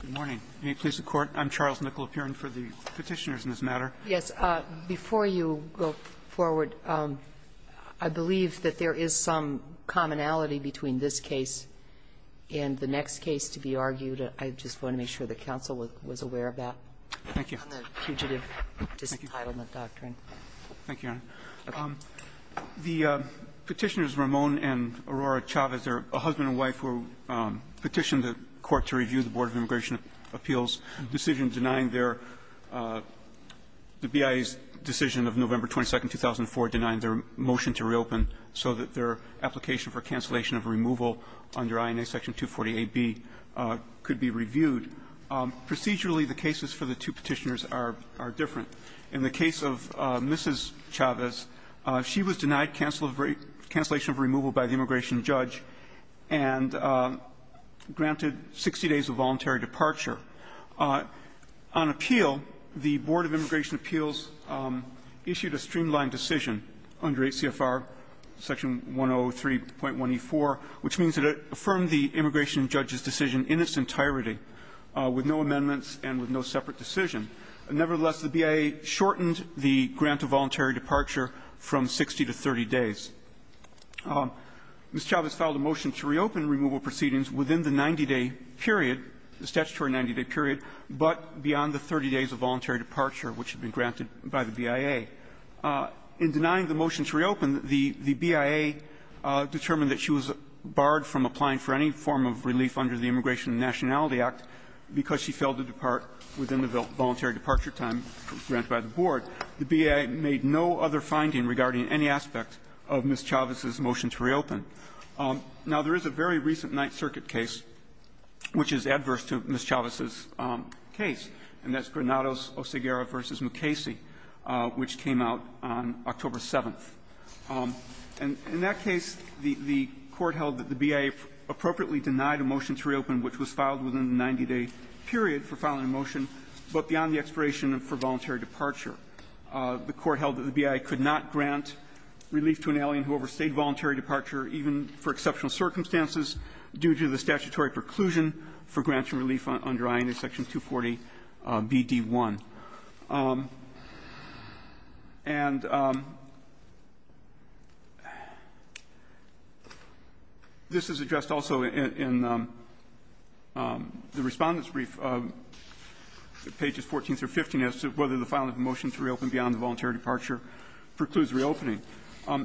Good morning. May it please the Court, I'm Charles Nicolapurin for the petitioners in this matter. Yes. Before you go forward, I believe that there is some commonality between this case and the next case to be argued. I just want to make sure the counsel was aware of that. Thank you. On the fugitive disentitlement doctrine. Thank you, Your Honor. Okay. The petitioners, Ramon and Aurora Chavez, are a husband and wife who petitioned the Court to review the Board of Immigration Appeals' decision denying their the BIA's decision of November 22, 2004, denying their motion to reopen so that their application for cancellation of removal under INA Section 248B could be reviewed. Procedurally, the cases for the two petitioners are different. In the case of Mrs. Chavez, she was denied cancellation of removal by the immigration judge and granted 60 days of voluntary departure. On appeal, the Board of Immigration Appeals issued a streamlined decision under 8 CFR Section 103.1E4, which means that it affirmed the immigration judge's decision in its entirety with no amendments and with no separate decision. Nevertheless, the BIA shortened the grant of voluntary departure from 60 to 30 days. Mrs. Chavez filed a motion to reopen removal proceedings within the 90-day period, the statutory 90-day period, but beyond the 30 days of voluntary departure which had been granted by the BIA. In denying the motion to reopen, the BIA determined that she was barred from applying for any form of relief under the Immigration and Nationality Act because she failed to depart within the voluntary departure time granted by the Board. The BIA made no other finding regarding any aspect of Mrs. Chavez's motion to reopen. Now, there is a very recent Ninth Circuit case which is adverse to Mrs. Chavez's case, and that's Granados-Oseguera v. Mukasey, which came out on October 7th. And in that case, the Court held that the BIA appropriately denied a motion to reopen which was filed within the 90-day period for filing a motion, but beyond the expiration for voluntary departure. The Court held that the BIA could not grant relief to an alien who overstayed voluntary departure even for exceptional circumstances due to the statutory preclusion for granting relief under INA Section 240BD1. And this is addressed also in the Respondent's brief, pages 14 through 15, as to whether the filing of a motion to reopen beyond the voluntary departure precludes reopening.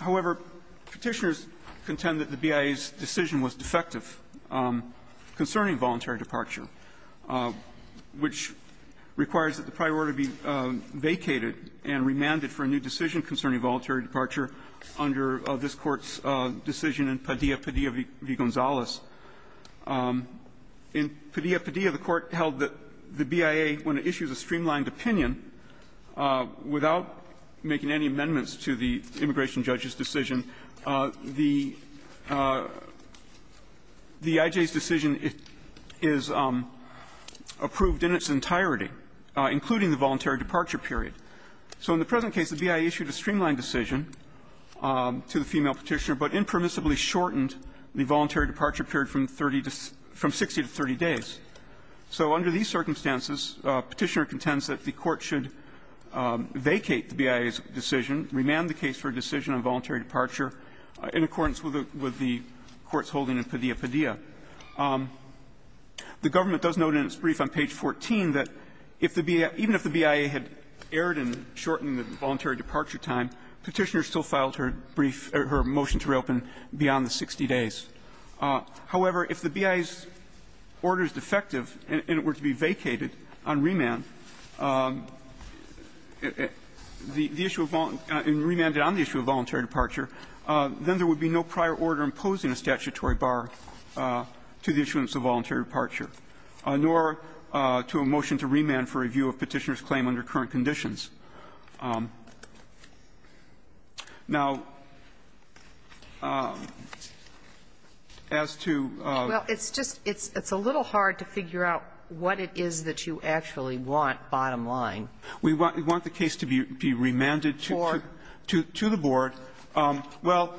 However, Petitioners contend that the BIA's decision was defective concerning voluntary departure, which requires that the prior order be vacated and remanded for a new decision concerning voluntary departure under this Court's decision in Padilla v. Gonzales. In Padilla v. Padilla, the Court held that the BIA, when it issues a streamlined opinion, without making any amendments to the immigration judge's decision, the I.J.'s decision is approved in its entirety, including the voluntary departure period. So in the present case, the BIA issued a streamlined decision to the female Petitioner, but impermissibly shortened the voluntary departure period from 30 to 60 to 30 days. So under these circumstances, Petitioner contends that the Court should vacate the BIA's decision, remand the case for a decision on voluntary departure in accordance with the Court's holding in Padilla v. Padilla. The government does note in its brief on page 14 that if the BIA, even if the BIA had erred in shortening the voluntary departure time, Petitioner still filed her brief or her motion to reopen beyond the 60 days. However, if the BIA's order is defective and it were to be vacated on remand, the issue of voluntary, remanded on the issue of voluntary departure, then there would be no prior order imposing a statutory bar to the issuance of voluntary departure, nor to a motion to remand for review of Petitioner's claim under current conditions. Now, as to the other case, we want the case to be remanded to the Board. Well,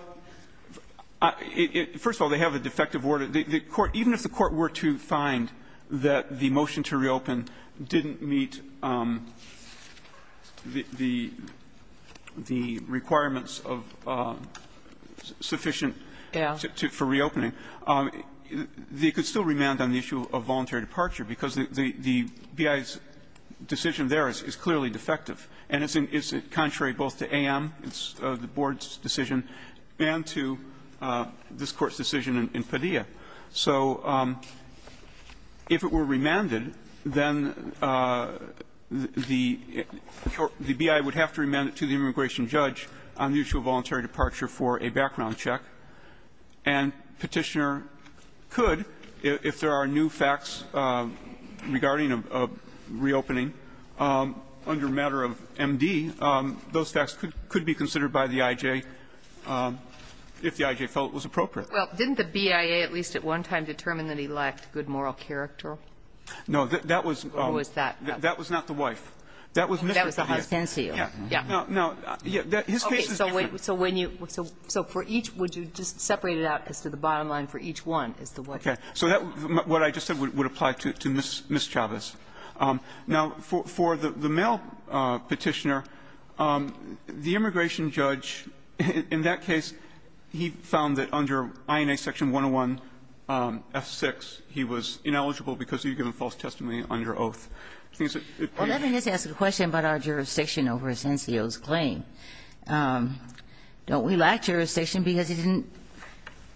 first of all, they have a defective order. The Court, even if the Court were to find that the motion to reopen didn't meet the requirements of sufficient for reopening, they could still remand on the issue of voluntary departure, because the BIA's decision there is clearly defective. And it's contrary both to AM, the Board's decision, and to this Court's decision in Padilla. So if it were remanded, then the BIA would have to remand it to the immigration judge on the issue of voluntary departure for a background check, and Petitioner could, if there are new facts regarding a reopening, under matter of the Board's discretion, and under MD, those facts could be considered by the I.J. if the I.J. felt it was appropriate. Well, didn't the BIA at least at one time determine that he lacked good moral character? No, that was not the wife. That was Mr. Diaz. That was the hostess to you. Yeah. Yeah. No, his case is different. So for each, would you just separate it out as to the bottom line, for each one is the wife? Okay. So what I just said would apply to Ms. Chavez. Now, for the male Petitioner, the immigration judge, in that case, he found that under INA section 101F6, he was ineligible because he had given false testimony under oath. Well, let me just ask a question about our jurisdiction over Asencio's claim. Don't we lack jurisdiction because he didn't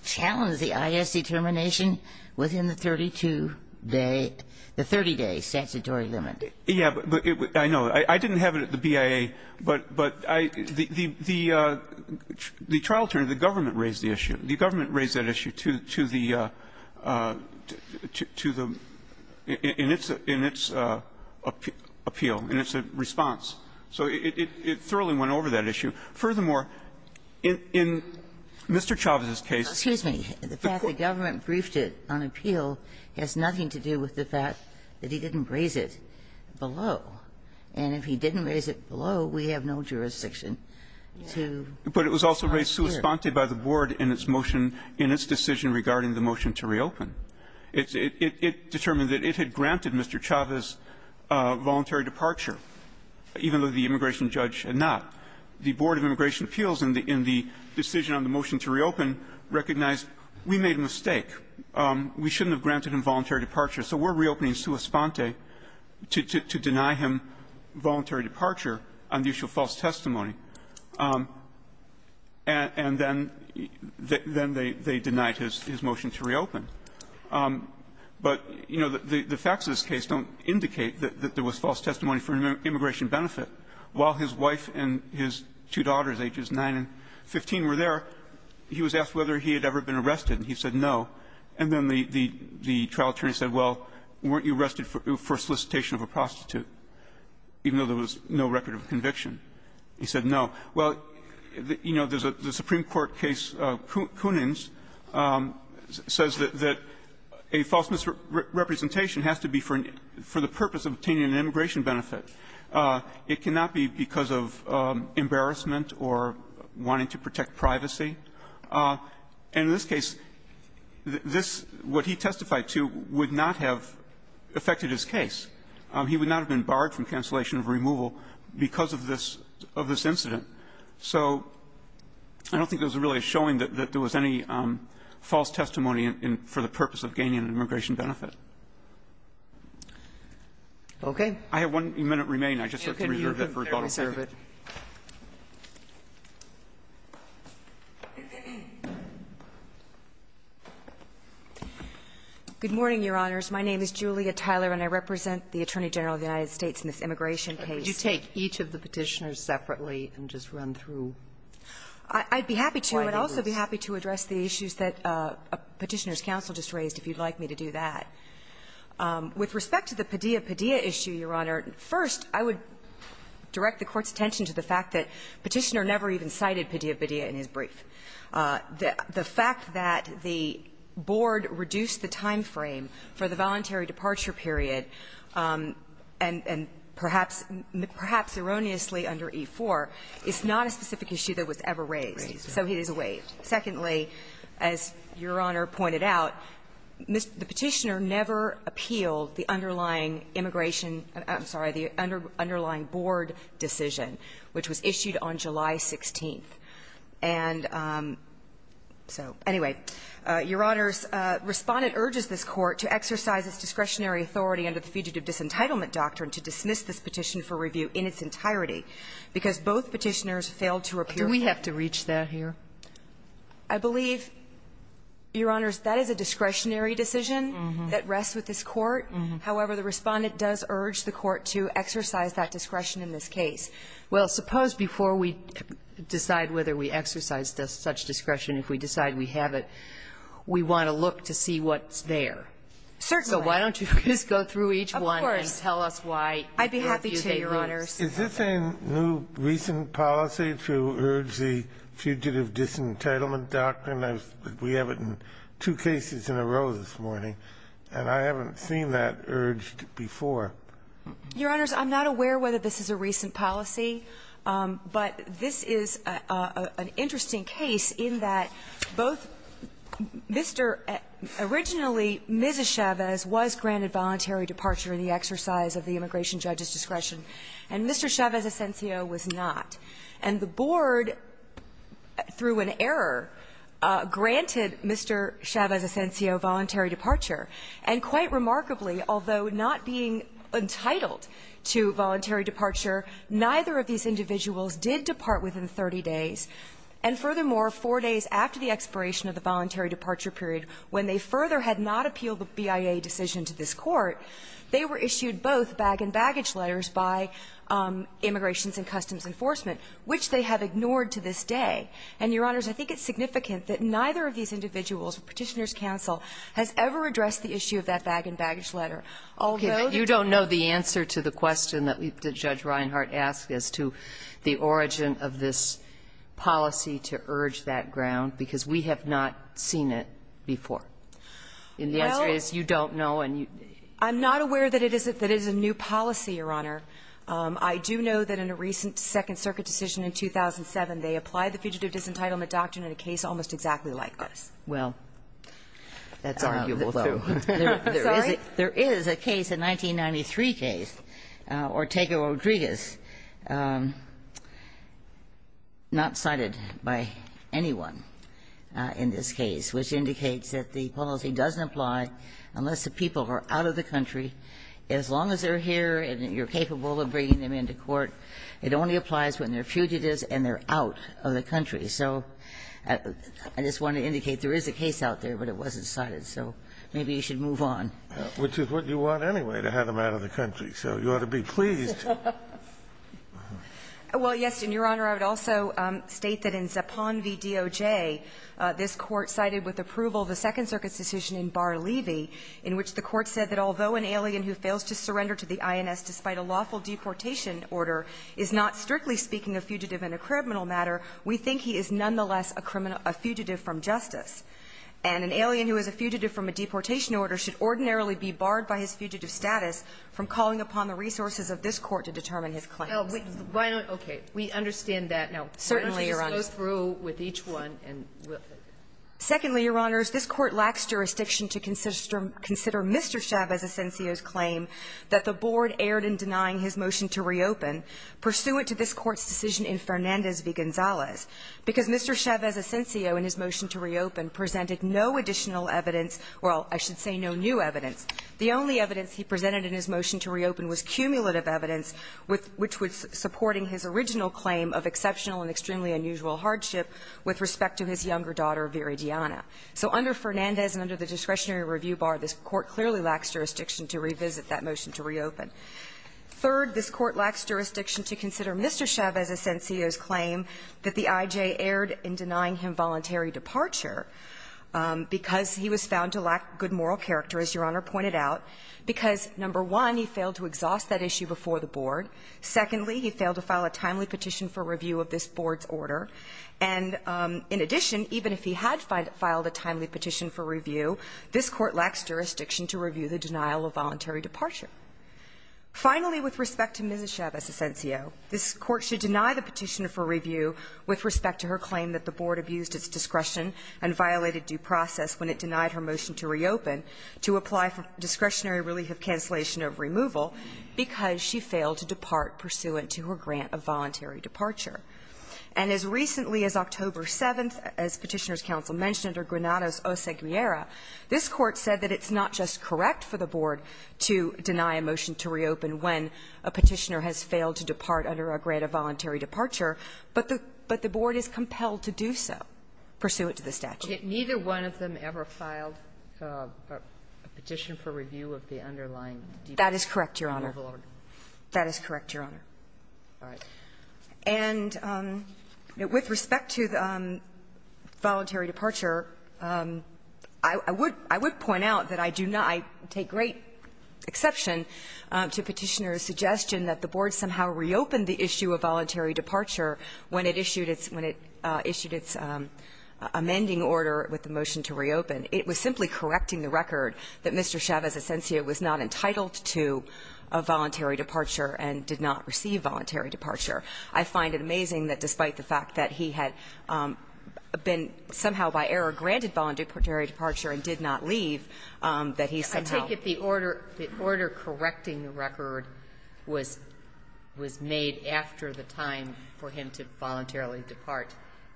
challenge the I.S. determination within the 32-day, the 30-day statutory limit? Yeah, but I know. I didn't have it at the BIA, but the trial attorney, the government raised the issue. The government raised that issue to the – in its appeal, in its response. So it thoroughly went over that issue. Furthermore, in Mr. Chavez's case the court – the decision to raise it on appeal has nothing to do with the fact that he didn't raise it below. And if he didn't raise it below, we have no jurisdiction to make it unclear. But it was also raised sui sponte by the board in its motion, in its decision regarding the motion to reopen. It determined that it had granted Mr. Chavez voluntary departure, even though the immigration judge had not. The Board of Immigration Appeals, in the decision on the motion to reopen, recognized that we made a mistake. We shouldn't have granted him voluntary departure. So we're reopening sui sponte to deny him voluntary departure on the issue of false testimony. And then they denied his motion to reopen. But, you know, the facts of this case don't indicate that there was false testimony for an immigration benefit. While his wife and his two daughters, ages 9 and 15, were there, he was asked whether he had ever been arrested, and he said no. And then the trial attorney said, well, weren't you arrested for solicitation of a prostitute, even though there was no record of conviction? He said no. Well, you know, there's a Supreme Court case, Kunin's, says that a false misrepresentation has to be for the purpose of obtaining an immigration benefit. It cannot be because of embarrassment or wanting to protect privacy. And in this case, this what he testified to would not have affected his case. He would not have been barred from cancellation of removal because of this incident. So I don't think there was really a showing that there was any false testimony for the purpose of gaining an immigration benefit. I have one minute remaining. I'll serve it. Tyler. Good morning, Your Honors. My name is Julia Tyler, and I represent the Attorney General of the United States in this immigration case. Would you take each of the Petitioners separately and just run through why they were asked? I'd be happy to, but I'd also be happy to address the issues that Petitioner's counsel just raised, if you'd like me to do that. With respect to the Padilla-Padilla issue, Your Honor, first, I would direct the Court's attention to the fact that Petitioner never even cited Padilla-Padilla in his brief. The fact that the board reduced the time frame for the voluntary departure period, and perhaps, perhaps erroneously under E-4, is not a specific issue that was ever raised. So it is waived. Secondly, as Your Honor pointed out, the Petitioner never appealed the underlying immigration – I'm sorry, the underlying board decision, which was issued on July 16th. And so, anyway, Your Honors, Respondent urges this Court to exercise its discretionary authority under the Fugitive Disentitlement Doctrine to dismiss this petition for review in its entirety, because both Petitioners failed to appear for it. Do we have to reach that here? I believe, Your Honors, that is a discretionary decision that rests with this Court. However, the Respondent does urge the Court to exercise that discretion in this case. Well, suppose before we decide whether we exercise such discretion, if we decide we have it, we want to look to see what's there. Certainly. So why don't you just go through each one and tell us why you think they lose. I'd be happy to, Your Honors. Is this a new, recent policy to urge the Fugitive Disentitlement Doctrine? We have it in two cases in a row this morning. And I haven't seen that urged before. Your Honors, I'm not aware whether this is a recent policy, but this is an interesting case in that both Mr. originally, Ms. Chavez was granted voluntary departure in the exercise of the immigration judge's discretion, and Mr. Chavez Asensio was not. And the Board, through an error, granted Mr. Chavez Asensio voluntary departure and quite remarkably, although not being entitled to voluntary departure, neither of these individuals did depart within 30 days. And furthermore, four days after the expiration of the voluntary departure period, when they further had not appealed the BIA decision to this Court, they were issued both bag-and-baggage letters by Immigrations and Customs Enforcement, which they have ignored to this day. And, Your Honors, I think it's significant that neither of these individuals, Petitioners' Counsel, has ever addressed the issue of that bag-and-baggage letter, although the two of them were granted voluntary departure. Okay. But you don't know the answer to the question that Judge Reinhardt asked as to the origin of this policy to urge that ground, because we have not seen it before. And the answer is, you don't know and you don't know. Well, I'm not aware that it is a new policy, Your Honor. I do know that in a recent Second Circuit decision in 2007, they applied the fugitive disentitlement doctrine in a case almost exactly like this. Well, that's arguable, though. Sorry? There is a case, a 1993 case, Ortega-Rodriguez, not cited by anyone in this case, which indicates that the policy doesn't apply unless the people are out of the country. As long as they're here and you're capable of bringing them into court, it only applies when they're fugitives and they're out of the country. So I just want to indicate there is a case out there, but it wasn't cited. So maybe you should move on. Which is what you want anyway, to have them out of the country. So you ought to be pleased. Well, yes, and, Your Honor, I would also state that in Zipan v. DOJ, this Court cited with approval the Second Circuit's decision in Bar-Levy, in which the Court said that although an alien who fails to surrender to the INS despite a lawful deportation order is not, strictly speaking, a fugitive in a criminal matter, we think he is nonetheless a fugitive from justice. And an alien who is a fugitive from a deportation order should ordinarily be barred by his fugitive status from calling upon the resources of this Court to determine his claims. Well, why don't we understand that now? Certainly, Your Honor. Why don't we just go through with each one and we'll see. Secondly, Your Honors, this Court lacks jurisdiction to consider Mr. Chavez Asensio's claim that the board erred in denying his motion to reopen pursuant to this Court's decision in Fernandez v. Gonzalez, because Mr. Chavez Asensio in his motion to reopen presented no additional evidence or, I should say, no new evidence. The only evidence he presented in his motion to reopen was cumulative evidence which was supporting his original claim of exceptional and extremely unusual hardship with respect to his younger daughter, Viridiana. So under Fernandez and under the discretionary review bar, this Court clearly lacks jurisdiction to revisit that motion to reopen. Third, this Court lacks jurisdiction to consider Mr. Chavez Asensio's claim that the I.J. erred in denying him voluntary departure because he was found to lack good moral character, as Your Honor pointed out, because, number one, he failed to exhaust that issue before the board. Secondly, he failed to file a timely petition for review of this board's order. And in addition, even if he had filed a timely petition for review, this Court lacks jurisdiction to review the denial of voluntary departure. Finally, with respect to Mrs. Chavez Asensio, this Court should deny the petition for review with respect to her claim that the board abused its discretion and violated due process when it denied her motion to reopen to apply for discretionary relief of cancellation of removal because she failed to depart pursuant to her grant of voluntary departure. And as recently as October 7th, as Petitioner's Counsel mentioned, under Granados o Seguiera, this Court said that it's not just correct for the board to deny a motion to reopen when a Petitioner has failed to depart under a grant of voluntary departure, but the board is compelled to do so pursuant to the statute. Sotomayor, neither one of them ever filed a petition for review of the underlying deed? That is correct, Your Honor. That is correct, Your Honor. All right. And with respect to voluntary departure, I would point out that I do not take great exception to Petitioner's suggestion that the board somehow reopened the issue of voluntary departure when it issued its amending order with the motion to reopen. It was simply correcting the record that Mr. Chavez Asensio was not entitled to a voluntary departure and did not receive voluntary departure. I find it amazing that despite the fact that he had been somehow by error granted voluntary departure and did not leave, that he somehow ---- I take it the order correcting the record was made after the time for him to voluntarily depart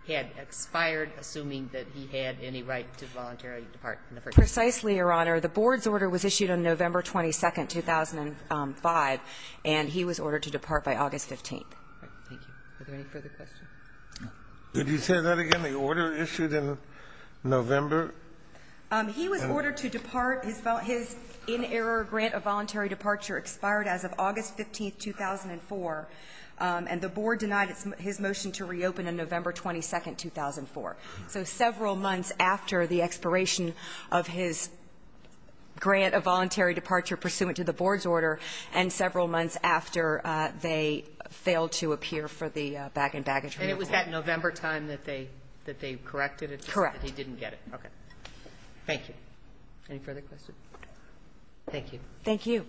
had expired, assuming that he had any right to voluntarily depart in the first instance. Precisely, Your Honor. The board's order was issued on November 22nd, 2005, and he was ordered to depart by August 15th. Thank you. Are there any further questions? Could you say that again? The order issued in November? He was ordered to depart. His inerror grant of voluntary departure expired as of August 15th, 2004, and the board denied his motion to reopen on November 22nd, 2004. So several months after the expiration of his grant of voluntary departure pursuant to the board's order and several months after they failed to appear for the bag-and-bag attorney. And it was that November time that they corrected it? Correct. That he didn't get it. Okay. Thank you. Any further questions? Thank you. Thank you.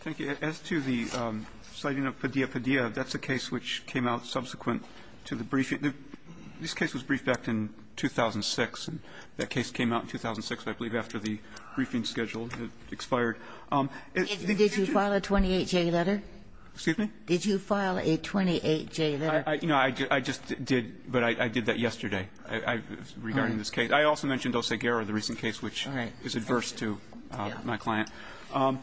Thank you. As to the citing of Padilla Padilla, that's a case which came out subsequent to the briefing. This case was briefed back in 2006, and that case came out in 2006, I believe, after the briefing schedule expired. Did you file a 28-J letter? Excuse me? Did you file a 28-J letter? I just did, but I did that yesterday regarding this case. I also mentioned Oseguera, the recent case, which is adverse to my client. As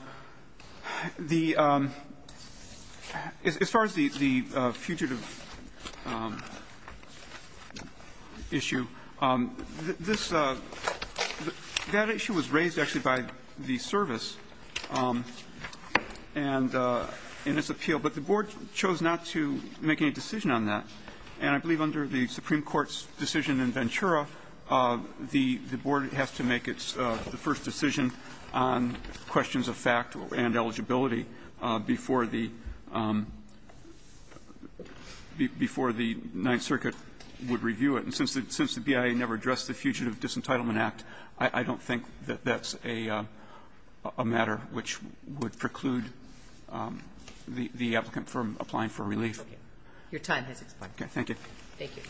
far as the fugitive issue, that issue was raised, actually, by the service and its appeal, but the board chose not to make any decision on that. And I believe under the Supreme Court's decision in Ventura, the board has to make its first decision on questions of fact and eligibility before the Ninth Circuit would review it. And since the BIA never addressed the Fugitive Disentitlement Act, I don't think that that's a matter which would preclude the applicant from applying for relief. Your time has expired. Okay. Thank you. Thank you.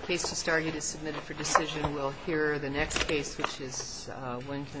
The case to start is submitted for decision. We'll hear the next case, which is Winton.